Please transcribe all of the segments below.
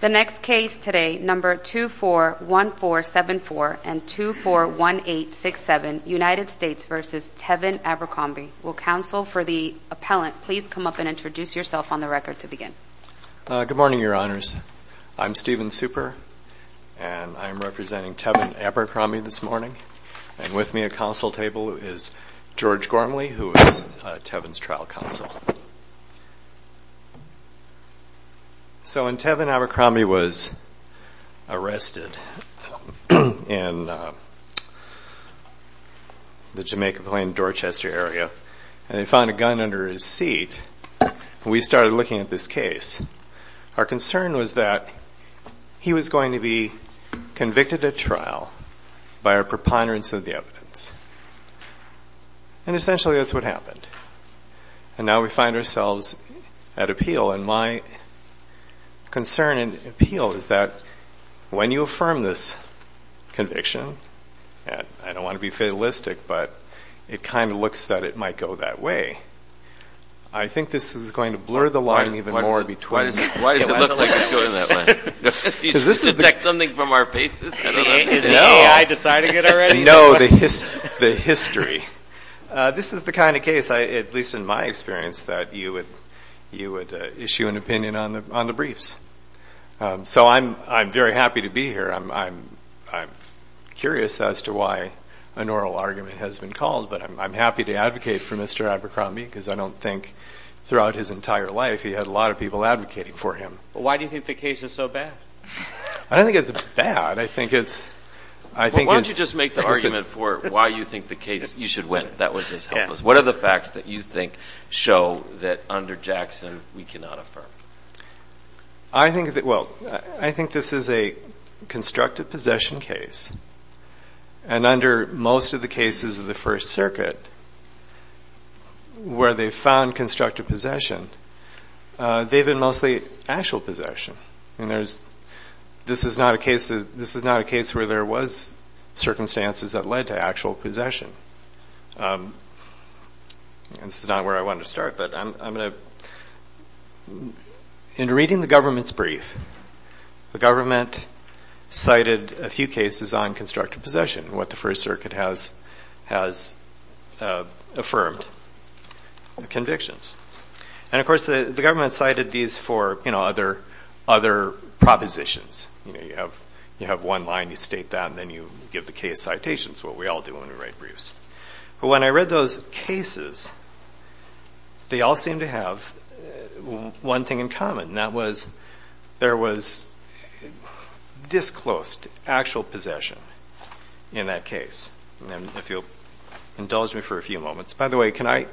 The next case today, No. 241474 and 241867, United States v. Tevin Abercrombie. Will counsel for the appellant please come up and introduce yourself on the record to begin. Good morning, your honors. I'm Stephen Super, and I'm representing Tevin Abercrombie this morning. And with me at counsel table is George Gormley, who is Tevin's trial counsel. So when Tevin Abercrombie was arrested in the Jamaica Plain Dorchester area, and they found a gun under his seat, we started looking at this case. Our concern was that he was going to be convicted at trial by our preponderance of the evidence. And essentially that's what happened. And now we find ourselves at appeal. And my concern and appeal is that when you affirm this conviction, and I don't want to be fatalistic, but it kind of looks that it might go that way. I think this is going to blur the line even more between. Why does it look like it's going that way? To detect something from our faces? Is the AI deciding it already? No, the history. This is the kind of case, at least in my experience, that you would issue an opinion on the briefs. So I'm very happy to be here. I'm curious as to why an oral argument has been called, but I'm happy to advocate for Mr. Abercrombie because I don't think throughout his entire life he had a lot of people advocating for him. Why do you think the case is so bad? I don't think it's bad. I think it's. Why don't you just make the argument for why you think the case, you should win. That would just help us. What are the facts that you think show that under Jackson we cannot affirm? I think that, well, I think this is a constructive possession case. And under most of the cases of the First Circuit where they found constructive possession, they've been mostly actual possession. This is not a case where there was circumstances that led to actual possession. This is not where I wanted to start, but I'm going to. In reading the government's brief, the government cited a few cases on constructive possession, what the First Circuit has affirmed, convictions. And of course, the government cited these for other propositions. You have one line, you state that, and then you give the case citations, what we all do when we write briefs. But when I read those cases, they all seemed to have one thing in common, and that was, there was disclosed actual possession in that case. And if you'll indulge me for a few moments. By the way, could I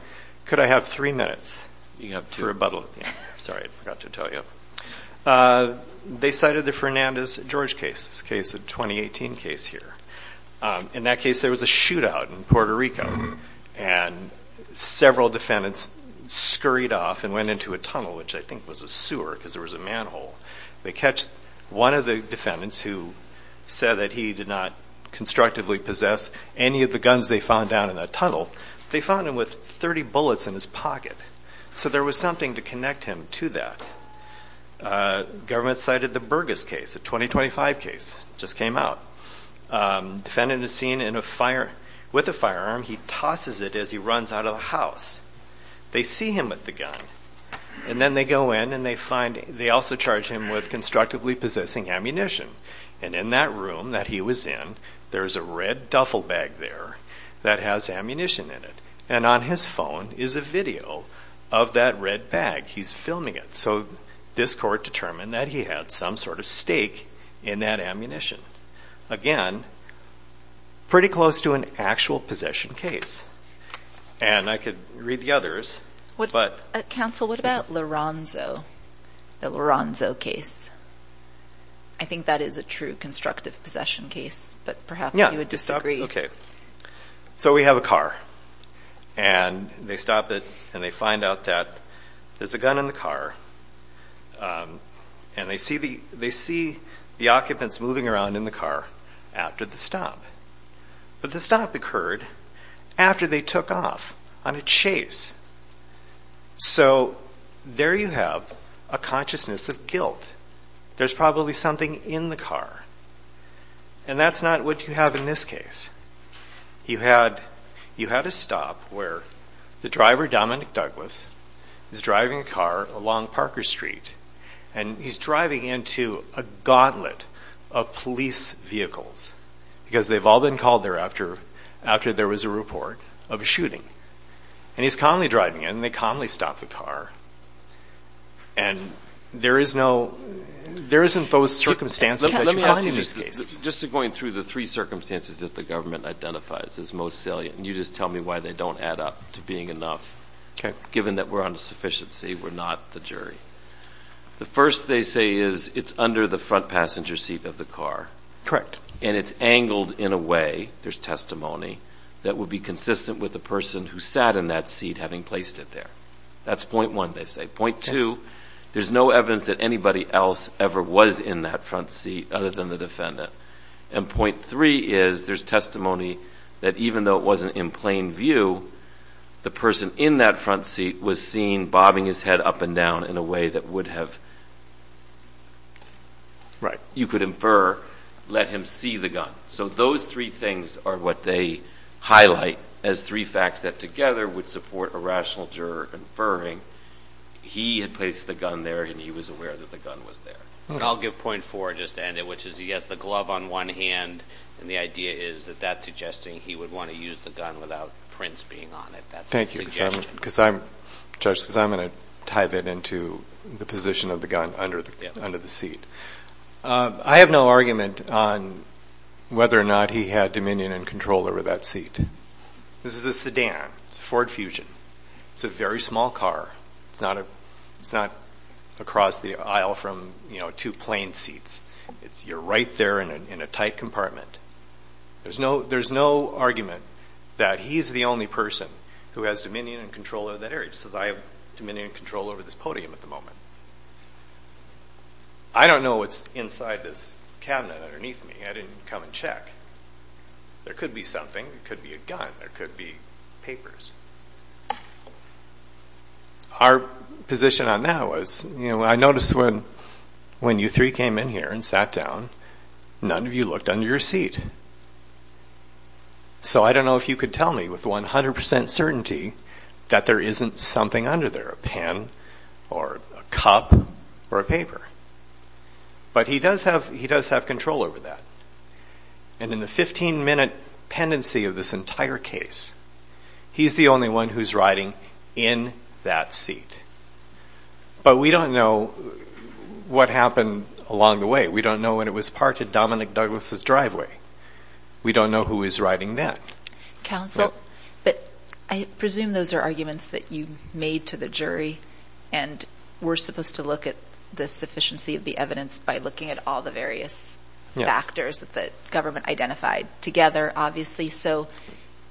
have three minutes for rebuttal? Sorry, I forgot to tell you. They cited the Fernandez-George case, this case, a 2018 case here. In that case, there was a shootout in Puerto Rico, and several defendants scurried off and went into a tunnel, which I think was a sewer, because there was a manhole. They catch one of the defendants who said that he did not constructively possess any of the guns they found down in that tunnel. They found him with 30 bullets in his pocket. So there was something to connect him to that. Government cited the Burgess case, a 2025 case, just came out. Defendant is seen with a firearm. He tosses it as he runs out of the house. They see him with the gun, and then they go in and they find, they also charge him with constructively possessing ammunition. And in that room that he was in, there's a red duffel bag there that has ammunition in it. And on his phone is a video of that red bag. He's filming it. So this court determined that he had some sort of stake in that ammunition. Again, pretty close to an actual possession case. And I could read the others, but... Counsel, what about Laronzo? The Laronzo case? I think that is a true constructive possession case, but perhaps you would disagree. Yeah. Okay. So we have a car. And they stop it, and they find out that there's a gun in the car. And they see the occupants moving around in the car after the stop. But the stop occurred after they took off on a chase. So there you have a consciousness of guilt. There's probably something in the car. And that's not what you have in this case. You had a stop where the driver, Dominic Douglas, is driving a car along Parker Street. And he's driving into a gauntlet of police vehicles. Because they've all been called there after there was a report of a shooting. And he's calmly driving, and they calmly stop the car. And there isn't those circumstances that you find in these cases. Just going through the three circumstances that the government identifies as most salient. And you just tell me why they don't add up to being enough. Given that we're on sufficiency, we're not the jury. The first, they say, is it's under the front passenger seat of the car. Correct. And it's angled in a way, there's testimony, that would be consistent with the person who sat in that seat having placed it there. That's point one, they say. Point two, there's no evidence that anybody else ever was in that front seat other than the defendant. And point three is, there's testimony that even though it wasn't in plain view, the person in that front seat was seen bobbing his head up and down in a way that would have, you could infer, let him see the gun. So those three things are what they highlight as three facts that together would support a rational juror inferring he had placed the gun there and he was aware that the gun was there. I'll give point four just to end it, which is he has the glove on one hand, and the idea is that that's suggesting he would want to use the gun without prints being on it. That's a suggestion. Thank you, Judge, because I'm going to tie that into the position of the gun under the seat. I have no argument on whether or not he had dominion and control over that seat. This is a sedan. It's a Ford Fusion. It's a very small car. It's not across the aisle from two plane seats. You're right there in a tight compartment. There's no argument that he's the only person who has dominion and control over that area. He says, I have dominion and control over this podium at the moment. I don't know what's inside this cabinet underneath me. I didn't come and check. There could be something. There could be a gun. There could be papers. Our position on that was, I noticed when you three came in here and sat down, none of you looked under your seat. So I don't know if you could tell me with 100% certainty that there isn't something under there, a pen or a cup or a paper. But he does have control over that. And in the 15-minute pendency of this entire case, he's the only one who's riding in that seat. But we don't know what happened along the way. We don't know when it was parked at Dominic Douglas' driveway. We don't know who was riding then. Counsel, but I presume those are arguments that you made to the jury and we're supposed to look at the sufficiency of the evidence by looking at all the various factors that government identified together, obviously. So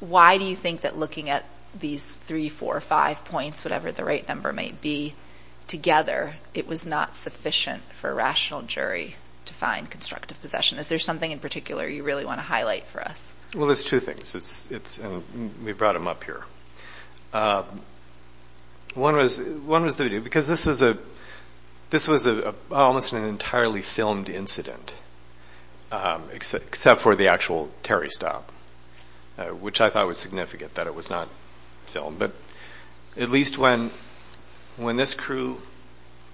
why do you think that looking at these three, four, five points, whatever the right number may be, together, it was not sufficient for a rational jury to find constructive possession? Is there something in particular you really want to highlight for us? Well, there's two things. We brought them up here. One was the video, because this was almost an entirely filmed incident, except for the actual Terry stop, which I thought was significant that it was not filmed. But at least when this crew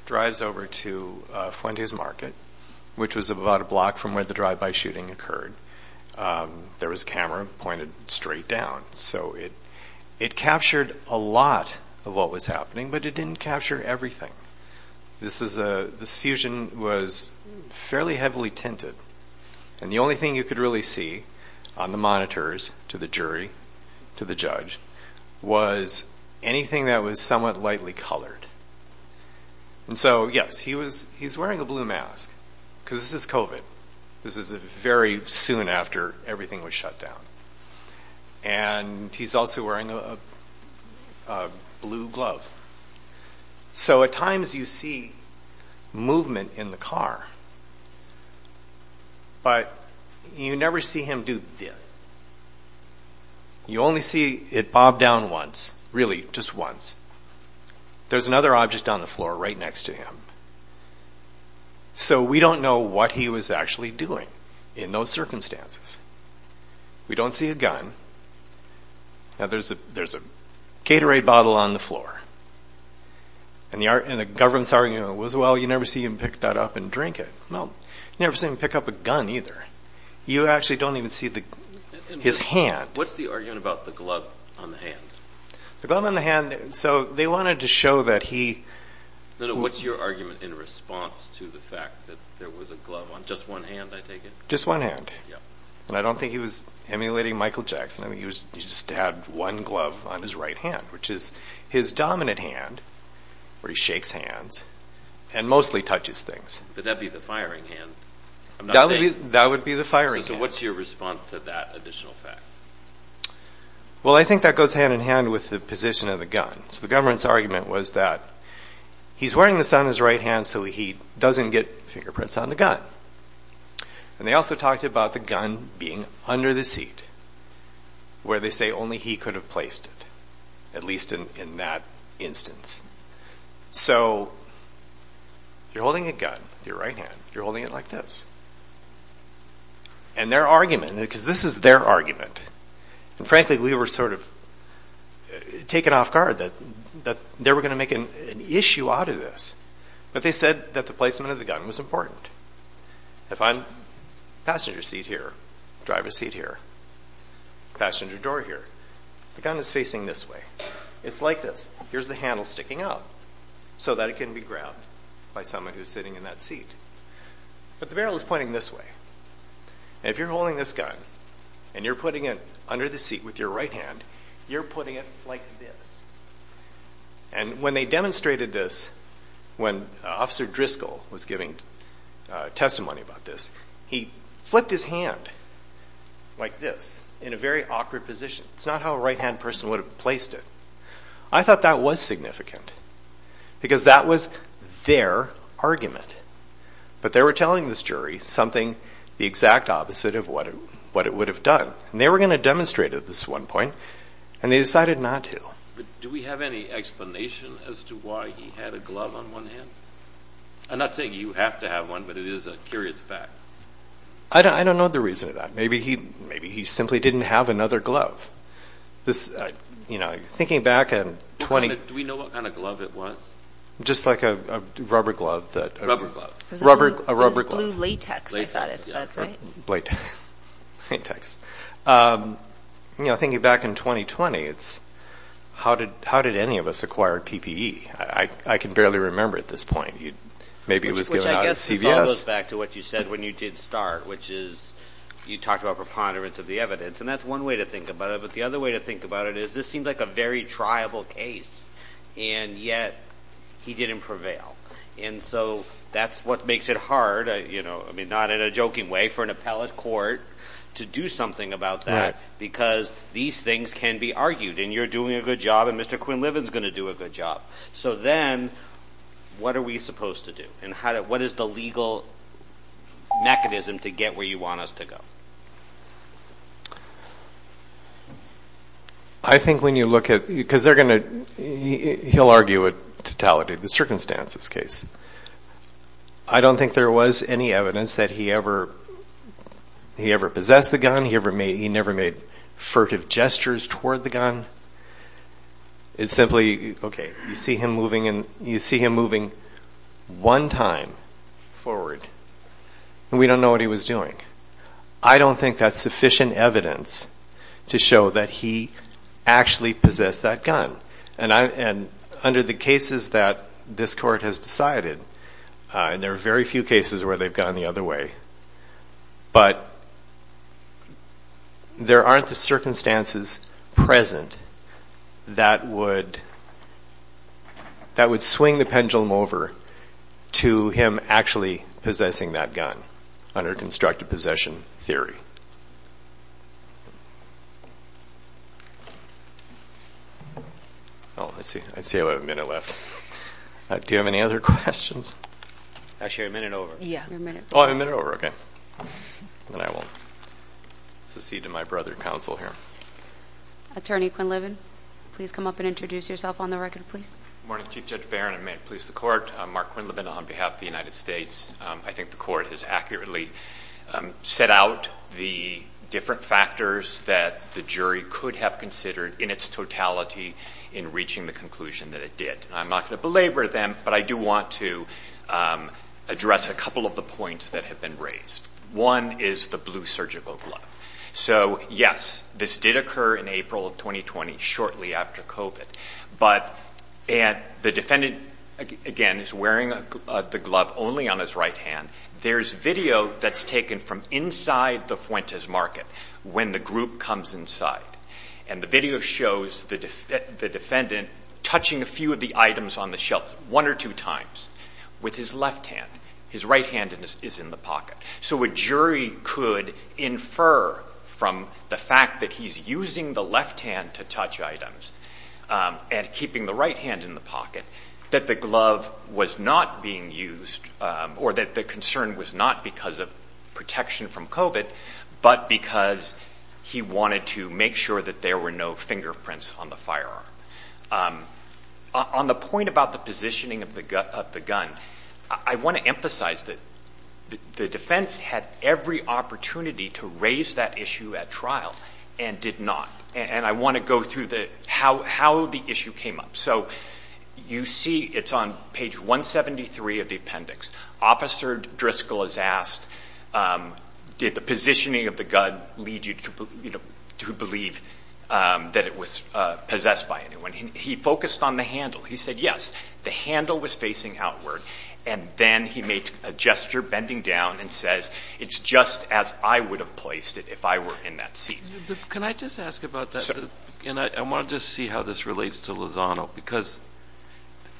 drives over to Fuentes Market, which was about a block from where the drive-by shooting occurred, there was a camera pointed straight down. So it captured a lot of what was happening, but it didn't capture everything. This fusion was fairly heavily tinted, and the only thing you could really see on the monitors to the jury, to the judge, was anything that was somewhat lightly colored. And so, yes, he was, he's wearing a blue mask because this is COVID. This is very soon after everything was shut down. And he's also wearing a blue glove. So at times you see movement in the car, but you never see him do this. You only see it bob down once, really just once. There's another object on the floor right next to him. So we don't know what he was actually doing in those circumstances. We don't see a gun. Now there's a Gatorade bottle on the floor. And the government's arguing, well, you never see him pick that up and drink it. Well, you never see him pick up a gun either. You actually don't even see his hand. What's the argument about the glove on the hand? The glove on the hand, so they wanted to show that he... No, no, what's your argument in response to the fact that there was a glove on just one hand, I take it? Just one hand. And I don't think he was emulating Michael Jackson. I think he just had one glove on his right hand, which is his dominant hand, where he shakes hands and mostly touches things. But that'd be the firing hand. That would be the firing hand. So what's your response to that additional fact? Well, I think that goes hand in hand with the position of the gun. So the government's argument was that he's wearing this on his right hand so he doesn't get fingerprints on the gun. And they also talked about the gun being under the seat, where they say only he could have placed it, at least in that instance. So you're holding a gun with your right hand, you're holding it like this. And their argument, because this is their argument, and frankly we were sort of taken off guard that they were going to make an issue out of this. But they said that the placement of the gun was important. If I'm passenger seat here, driver's seat here, passenger door here, the gun is facing this way. It's like this. Here's the handle sticking out so that it can be grabbed by someone who's sitting in that seat. But the barrel is pointing this way. And if you're holding this gun and you're putting it under the seat with your right hand, you're putting it like this. And when they demonstrated this, when Officer Driscoll was giving testimony about this, he flipped his hand like this in a very awkward position. It's not how a right-hand person would have placed it. I thought that was significant. Because that was their argument. But they were telling this jury something the exact opposite of what it would have done. And they were going to demonstrate at this one point, and they decided not to. Do we have any explanation as to why he had a glove on one hand? I'm not saying you have to have one, but it is a curious fact. I don't know the reason for that. Maybe he simply didn't have another glove. Thinking back in 20... Do we know what kind of glove it was? Just like a rubber glove that... Rubber glove. A rubber glove. It was glue latex, I thought it said, right? Latex. Thinking back in 2020, how did any of us acquire PPE? I can barely remember at this point. Maybe it was given out at CVS. Which I guess follows back to what you said when you did start, which is you talked about preponderance of the evidence. And that's one way to think about it. But the other way to think about it is this seems like a very triable case. And yet he didn't prevail. And so that's what makes it hard, not in a joking way, for an appellate court to do something about that. Because these things can be argued. And you're doing a good job, and Mr. Quinlivan's going to do a good job. So then what are we supposed to do? And what is the legal mechanism to get where you want us to go? I think when you look at, because they're going to, he'll argue a totality, the circumstances case. I don't think there was any evidence that he ever possessed the gun. He never made furtive gestures toward the gun. It's simply, okay, you see him moving one time forward, and we don't know what he was doing. I don't think that's sufficient evidence to show that he actually possessed that gun. And under the cases that this court has decided, and there are very few cases where they've gone the other way, but there aren't the circumstances present that would swing the pendulum over to him actually possessing that gun, under constructive possession theory. I see we have a minute left. Do you have any other questions? Actually, you have a minute over. Oh, I have a minute over. Then I will secede to my brother counsel here. Attorney Quinlivan, please come up and introduce yourself on the record, please. Good morning, Chief Judge Barron, and may it please the Court. I'm Mark Quinlivan on behalf of the United States. I think the Court has accurately set out the different factors that the jury could have considered in its totality in reaching the conclusion that it did. I'm not going to belabor them, but I do want to address a couple of the points that have been raised. One is the blue surgical glove. So, yes, this did occur in April of 2020, shortly after COVID. But the defendant, again, is wearing the glove only on his right hand. There's video that's taken from inside the Fuentes Market when the group comes inside. And the video shows the defendant touching a few of the items on the shelves one or two times with his left hand. His right hand is in the pocket. So a jury could infer from the fact that he's using the left hand to touch items and keeping the right hand in the pocket that the glove was not being used, or that the concern was not because of protection from COVID, but because he wanted to make sure that there were no fingerprints on the firearm. On the point about the positioning of the gun, I want to emphasize that the defense had every opportunity to raise that issue at trial and did not. And I want to go through how the issue came up. So you see it's on page 173 of the appendix. Officer Driscoll is asked, did the positioning of the gun lead you to believe that it was possessed by anyone? He focused on the handle. He said, yes, the handle was facing outward. And then he made a gesture, bending down, and says, it's just as I would have placed it if I were in that seat. Can I just ask about that? And I want to just see how this relates to Lozano, because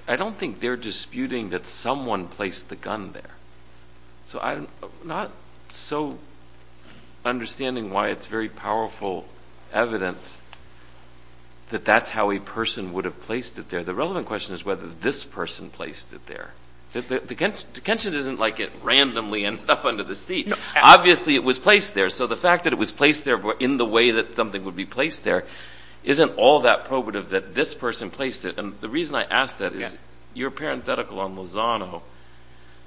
I don't think they're disputing that someone placed the gun there. So I'm not so understanding why it's very powerful evidence that that's how a person would have placed it there. The relevant question is whether this person placed it there. The detention isn't like it randomly ended up under the seat. Obviously it was placed there. So the fact that it was placed there in the way that something would be placed there isn't all that probative that this person placed it. And the reason I ask that is your parenthetical on Lozano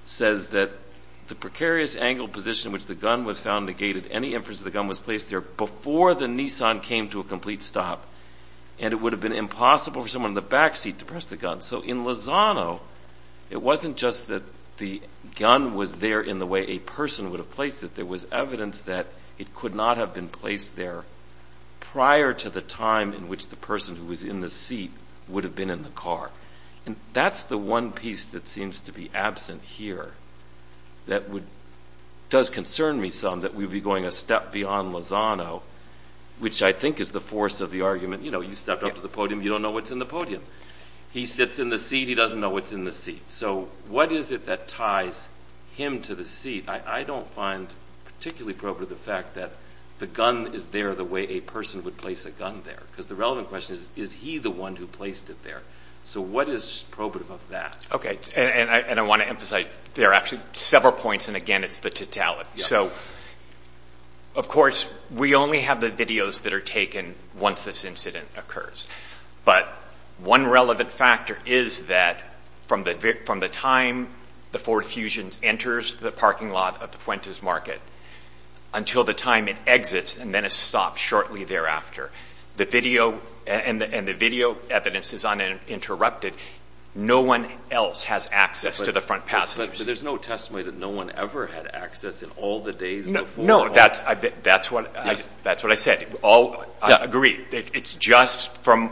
says that the precarious angle position in which the gun was found negated any inference that the gun was placed there before the Nissan came to a complete stop. And it would have been impossible for someone in the back seat to press the gun. So in Lozano, it wasn't just that the gun was there in the way a person would have placed it. There was evidence that it could not have been placed there prior to the time in which the person who was in the seat would have been in the car. And that's the one piece that seems to be absent here that does concern me some, that we'd be going a step beyond Lozano, which I think is the force of the argument, you know, you stepped up to the podium, you don't know what's in the podium. He sits in the seat, he doesn't know what's in the seat. So what is it that ties him to the seat? I don't find particularly probative the fact that the gun is there the way a person would place a gun there. Because the relevant question is, is he the one who placed it there? So what is probative of that? Okay. And I want to emphasize there are actually several points, and again, it's the totality. So, of course, we only have the videos that are taken once this incident occurs. But one relevant factor is that from the time the Ford Fusions enters the parking lot of Fuentes Market until the time it exits and then it stops shortly thereafter, the video and the video evidence is uninterrupted. No one else has access to the front passengers. But there's no testimony that no one ever had access in all the days before. No, that's what I said. I agree. It's just from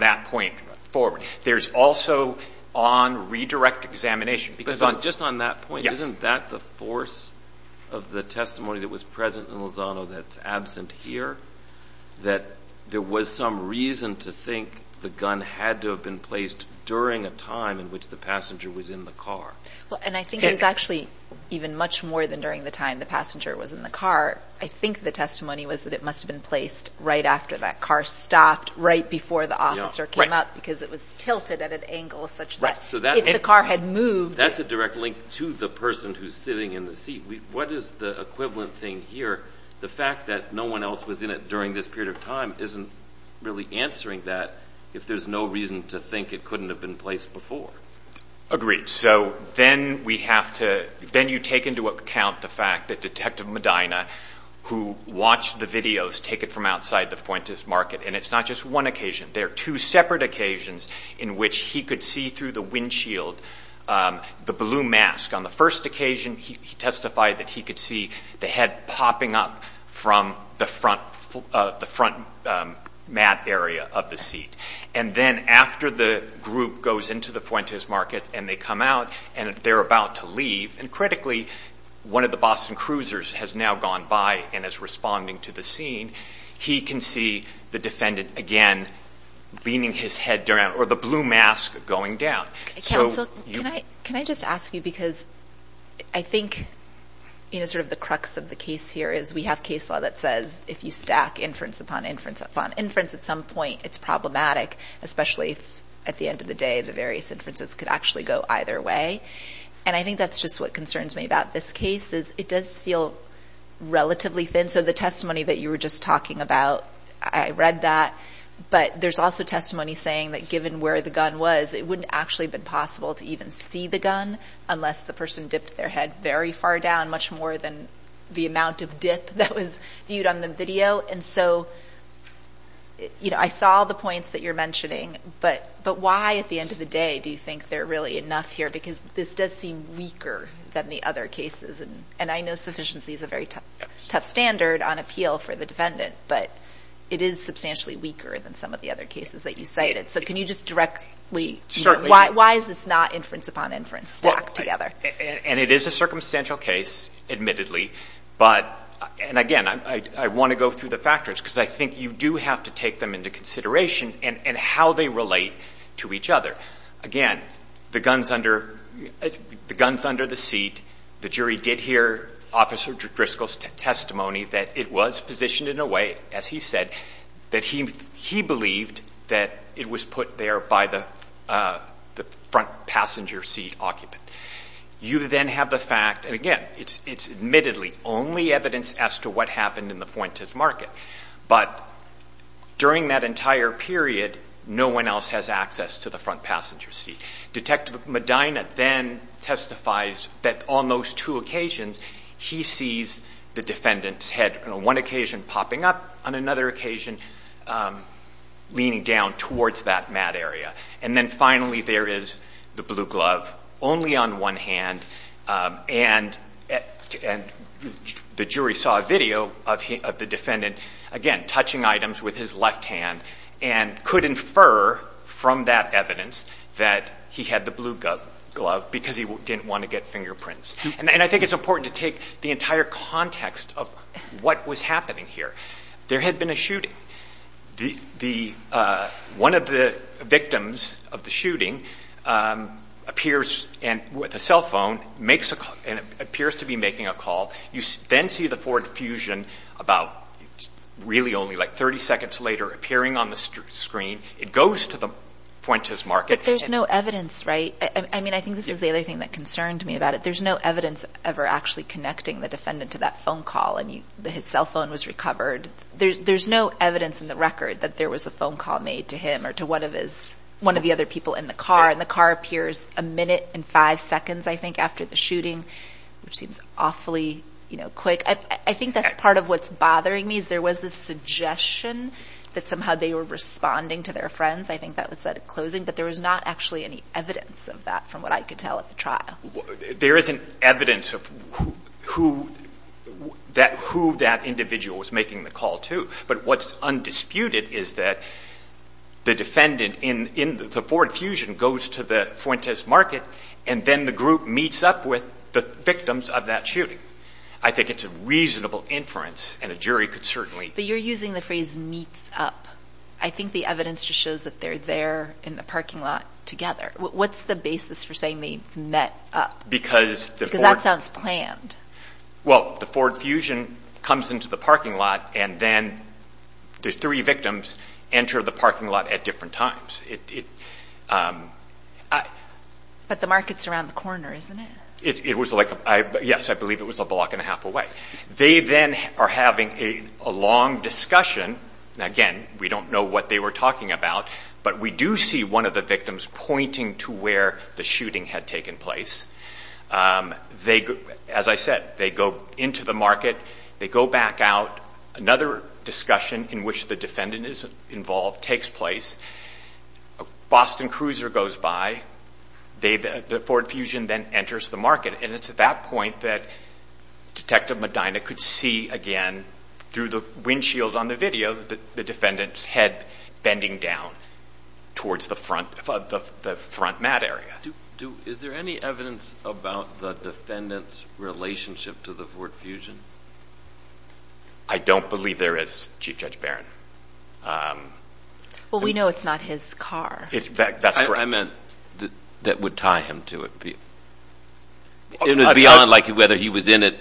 that point forward. There's also on redirect examination. But just on that point, isn't that the force of the testimony that was present in Lozano that's absent here, that there was some reason to think the gun had to have been placed during a time in which the passenger was in the car? Well, and I think it was actually even much more than during the time the passenger was in the car. I think the testimony was that it must have been placed right after that car stopped, right before the officer came up, because it was tilted at an angle such that if the car had moved. That's a direct link to the person who's sitting in the seat. What is the equivalent thing here? The fact that no one else was in it during this period of time isn't really answering that if there's no reason to think it couldn't have been placed before. Agreed. So then you take into account the fact that Detective Medina, who watched the videos, take it from outside the Fuentes Market. And it's not just one occasion. There are two separate occasions in which he could see through the windshield the blue mask. On the first occasion, he testified that he could see the head popping up from the front mat area of the seat. And then after the group goes into the Fuentes Market and they come out and they're about to leave, and critically, one of the Boston Cruisers has now gone by and is responding to the scene, he can see the defendant again leaning his head down or the blue mask going down. Counsel, can I just ask you, because I think sort of the crux of the case here is we have case law that says if you stack inference upon inference upon inference at some point, it's problematic, especially if at the end of the day the various inferences could actually go either way. And I think that's just what concerns me about this case is it does feel relatively thin. So the testimony that you were just talking about, I read that. But there's also testimony saying that given where the gun was, it wouldn't actually have been possible to even see the gun unless the person dipped their head very far down, much more than the amount of dip that was viewed on the video. And so I saw the points that you're mentioning. But why at the end of the day do you think they're really enough here? Because this does seem weaker than the other cases. And I know sufficiency is a very tough standard on appeal for the defendant. But it is substantially weaker than some of the other cases that you cited. So can you just directly – why is this not inference upon inference stuck together? And it is a circumstantial case, admittedly. But – and again, I want to go through the factors because I think you do have to take them into consideration and how they relate to each other. Again, the gun's under the seat. The jury did hear Officer Driscoll's testimony that it was positioned in a way, as he said, that he believed that it was put there by the front passenger seat occupant. You then have the fact – and again, it's admittedly only evidence as to what happened in the Fuentes Market. But during that entire period, no one else has access to the front passenger seat. Detective Medina then testifies that on those two occasions he sees the defendant's head on one occasion popping up, on another occasion leaning down towards that mat area. And then finally there is the blue glove only on one hand. And the jury saw a video of the defendant, again, touching items with his left hand and could infer from that evidence that he had the blue glove because he didn't want to get fingerprints. And I think it's important to take the entire context of what was happening here. There had been a shooting. One of the victims of the shooting appears with a cell phone and appears to be making a call. You then see the Ford Fusion about really only like 30 seconds later appearing on the screen. It goes to the Fuentes Market. But there's no evidence, right? I mean, I think this is the other thing that concerned me about it. There's no evidence ever actually connecting the defendant to that phone call and his cell phone was recovered. There's no evidence in the record that there was a phone call made to him or to one of the other people in the car. And the car appears a minute and five seconds, I think, after the shooting, which seems awfully quick. I think that's part of what's bothering me is there was this suggestion that somehow they were responding to their friends. I think that was said at closing. But there was not actually any evidence of that from what I could tell at the trial. There isn't evidence of who that individual was making the call to. But what's undisputed is that the defendant in the Ford Fusion goes to the Fuentes Market, and then the group meets up with the victims of that shooting. I think it's a reasonable inference, and a jury could certainly. But you're using the phrase meets up. I think the evidence just shows that they're there in the parking lot together. What's the basis for saying they met up? Because that sounds planned. Well, the Ford Fusion comes into the parking lot, and then the three victims enter the parking lot at different times. But the market's around the corner, isn't it? Yes, I believe it was a block and a half away. They then are having a long discussion. Again, we don't know what they were talking about, but we do see one of the victims pointing to where the shooting had taken place. As I said, they go into the market. They go back out. Another discussion in which the defendant is involved takes place. A Boston Cruiser goes by. The Ford Fusion then enters the market. It's at that point that Detective Medina could see again through the windshield on the video the defendant's head bending down towards the front mat area. Is there any evidence about the defendant's relationship to the Ford Fusion? I don't believe there is, Chief Judge Barron. Well, we know it's not his car. I meant that would tie him to it. It would be unlikely whether he was in it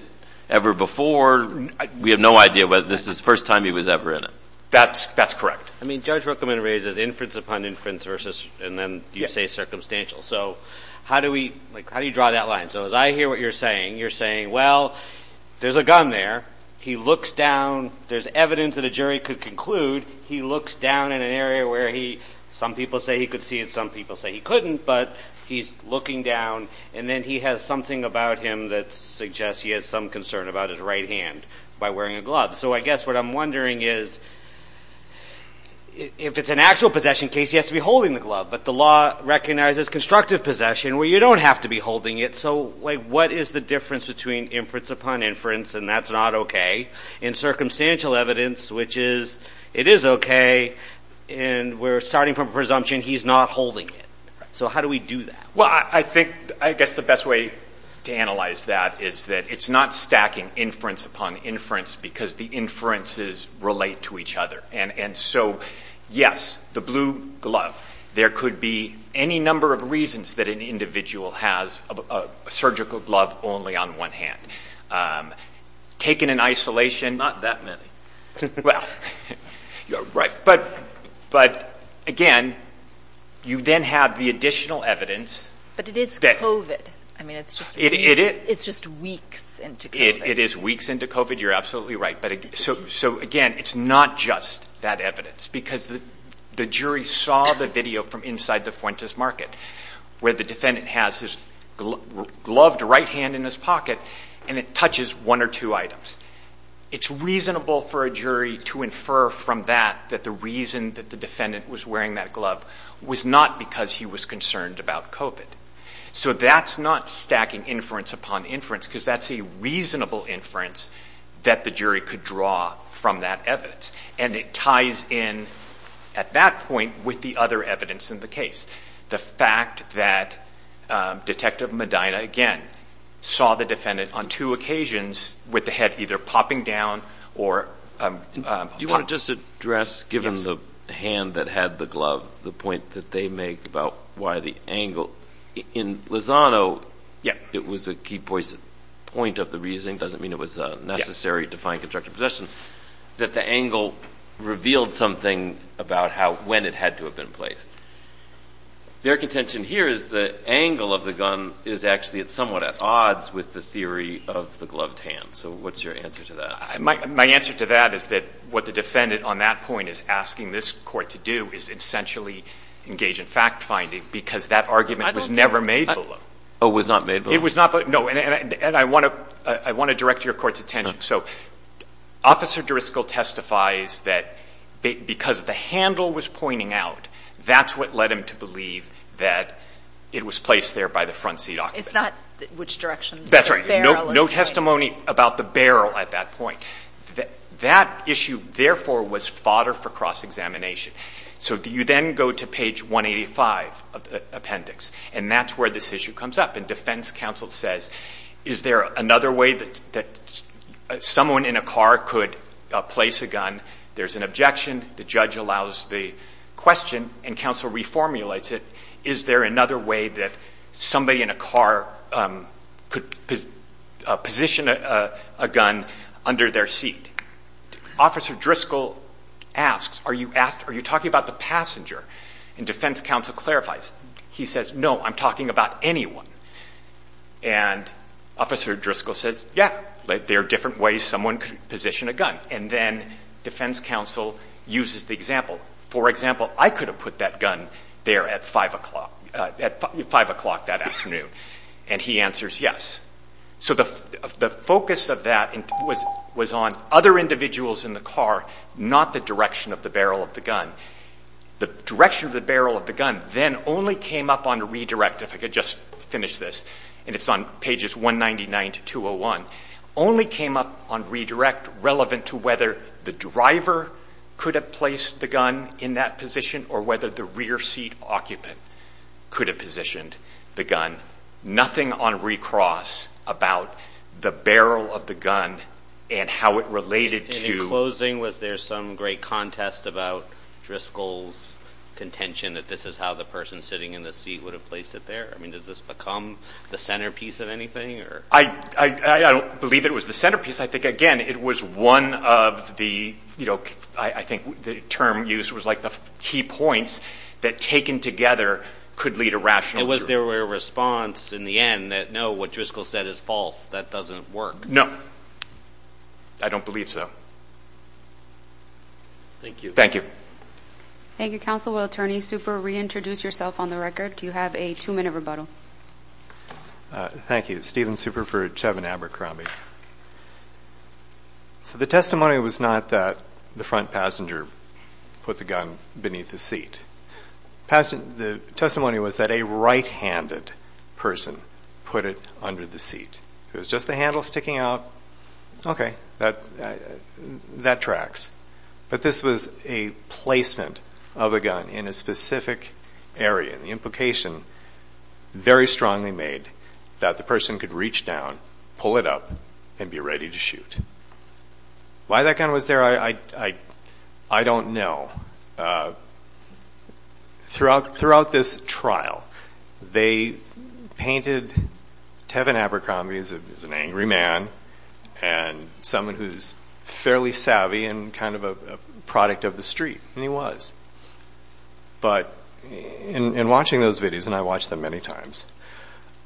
ever before. We have no idea whether this is the first time he was ever in it. That's correct. I mean, Judge Rookman raises inference upon inference versus, and then you say, circumstantial. So how do you draw that line? So as I hear what you're saying, you're saying, well, there's a gun there. He looks down. There's evidence that a jury could conclude he looks down in an area where he Some people say he could see it. Some people say he couldn't, but he's looking down. And then he has something about him that suggests he has some concern about his right hand by wearing a glove. So I guess what I'm wondering is if it's an actual possession case, he has to be holding the glove. But the law recognizes constructive possession where you don't have to be holding it. So what is the difference between inference upon inference, and that's not okay, and circumstantial evidence, which is it is okay. And we're starting from a presumption he's not holding it. So how do we do that? Well, I think I guess the best way to analyze that is that it's not stacking inference upon inference because the inferences relate to each other. And so, yes, the blue glove. There could be any number of reasons that an individual has a surgical glove only on one hand. Taken in isolation, not that many. Well, you're right. But, again, you then have the additional evidence. But it is COVID. I mean, it's just weeks into COVID. It is weeks into COVID. You're absolutely right. So, again, it's not just that evidence because the jury saw the video from inside the Fuentes Market where the defendant has his gloved right hand in his pocket, and it touches one or two items. It's reasonable for a jury to infer from that that the reason that the defendant was wearing that glove was not because he was concerned about COVID. So that's not stacking inference upon inference because that's a reasonable inference that the jury could draw from that evidence. And it ties in at that point with the other evidence in the case. The fact that Detective Medina, again, saw the defendant on two occasions with the head either popping down or popping up. Do you want to just address, given the hand that had the glove, the point that they make about why the angle? In Lozano, it was a key point of the reasoning. It doesn't mean it was necessary to find constructive possession. The angle revealed something about when it had to have been placed. Their contention here is the angle of the gun is actually somewhat at odds with the theory of the gloved hand. So what's your answer to that? My answer to that is that what the defendant on that point is asking this court to do is essentially engage in fact-finding because that argument was never made below. Oh, it was not made below? It was not below. No, and I want to direct your court's attention. So Officer Driscoll testifies that because the handle was pointing out, that's what led him to believe that it was placed there by the front seat occupant. It's not which direction the barrel is pointing. No testimony about the barrel at that point. That issue, therefore, was fodder for cross-examination. So you then go to page 185 of the appendix, and that's where this issue comes up. And defense counsel says, is there another way that someone in a car could place a gun? There's an objection. The judge allows the question, and counsel reformulates it. Is there another way that somebody in a car could position a gun under their seat? Officer Driscoll asks, are you talking about the passenger? And defense counsel clarifies. He says, no, I'm talking about anyone. And Officer Driscoll says, yeah, there are different ways someone could position a gun. And then defense counsel uses the example. For example, I could have put that gun there at 5 o'clock that afternoon. And he answers yes. So the focus of that was on other individuals in the car, not the direction of the barrel of the gun. The direction of the barrel of the gun then only came up on redirect. If I could just finish this, and it's on pages 199 to 201, only came up on redirect relevant to whether the driver could have placed the gun in that position or whether the rear seat occupant could have positioned the gun. Nothing on recross about the barrel of the gun and how it related to the driver. Is it Driscoll's contention that this is how the person sitting in the seat would have placed it there? I mean, does this become the centerpiece of anything? I don't believe it was the centerpiece. I think, again, it was one of the, you know, I think the term used was like the key points that taken together could lead to rationality. Was there a response in the end that, no, what Driscoll said is false, that doesn't work? No. I don't believe so. Thank you. Thank you. Thank you, Counsel. Will Attorney Super reintroduce yourself on the record? You have a two-minute rebuttal. Thank you. Steven Super for Chevin Abercrombie. So the testimony was not that the front passenger put the gun beneath the seat. The testimony was that a right-handed person put it under the seat. It was just the handle sticking out. Okay, that tracks. But this was a placement of a gun in a specific area. The implication very strongly made that the person could reach down, pull it up, and be ready to shoot. Why that gun was there, I don't know. Throughout this trial, they painted Chevin Abercrombie as an angry man and someone who's fairly savvy and kind of a product of the street, and he was. But in watching those videos, and I watched them many times,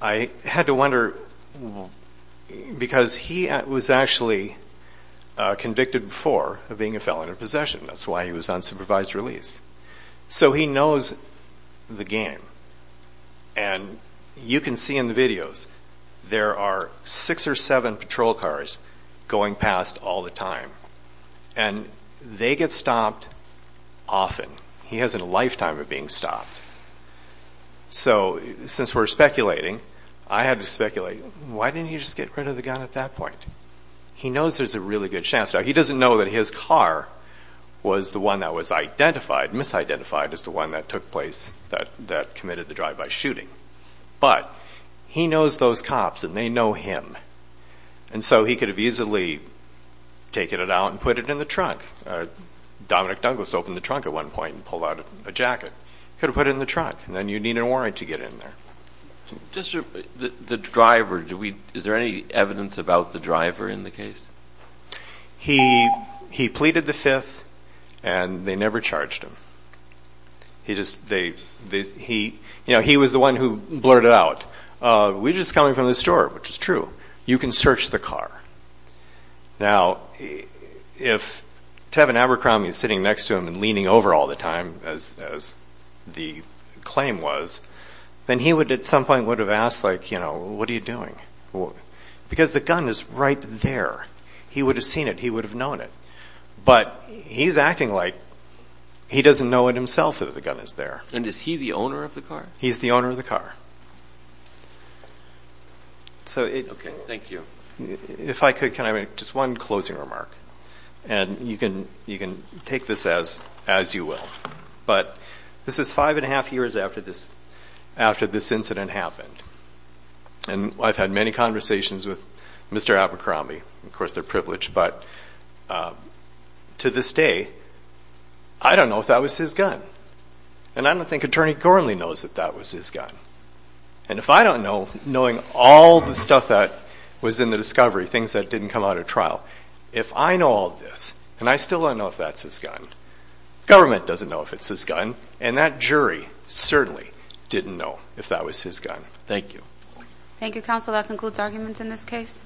I had to wonder because he was actually convicted before of being a felon in possession. That's why he was on supervised release. So he knows the game, and you can see in the videos, there are six or seven patrol cars going past all the time, and they get stopped often. He has a lifetime of being stopped. So since we're speculating, I had to speculate, why didn't he just get rid of the gun at that point? He knows there's a really good chance. He doesn't know that his car was the one that was identified, misidentified as the one that took place, that committed the drive-by shooting. But he knows those cops, and they know him, and so he could have easily taken it out and put it in the trunk. Dominic Douglas opened the trunk at one point and pulled out a jacket. He could have put it in the trunk, and then you'd need an warrant to get in there. The driver, is there any evidence about the driver in the case? He pleaded the fifth, and they never charged him. He was the one who blurted it out. We're just coming from the store, which is true. You can search the car. Now, if Tevin Abercrombie is sitting next to him and leaning over all the time, as the claim was, then he would at some point would have asked, like, you know, what are you doing? Because the gun is right there. He would have seen it. He would have known it. But he's acting like he doesn't know it himself that the gun is there. And is he the owner of the car? He's the owner of the car. Okay, thank you. If I could, can I make just one closing remark? And you can take this as you will. But this is five and a half years after this incident happened. And I've had many conversations with Mr. Abercrombie. Of course, they're privileged. But to this day, I don't know if that was his gun. And I don't think Attorney Gormley knows that that was his gun. And if I don't know, knowing all the stuff that was in the discovery, things that didn't come out of trial, if I know all this, and I still don't know if that's his gun, government doesn't know if it's his gun, and that jury certainly didn't know if that was his gun. Thank you. Thank you, counsel. That concludes arguments in this case.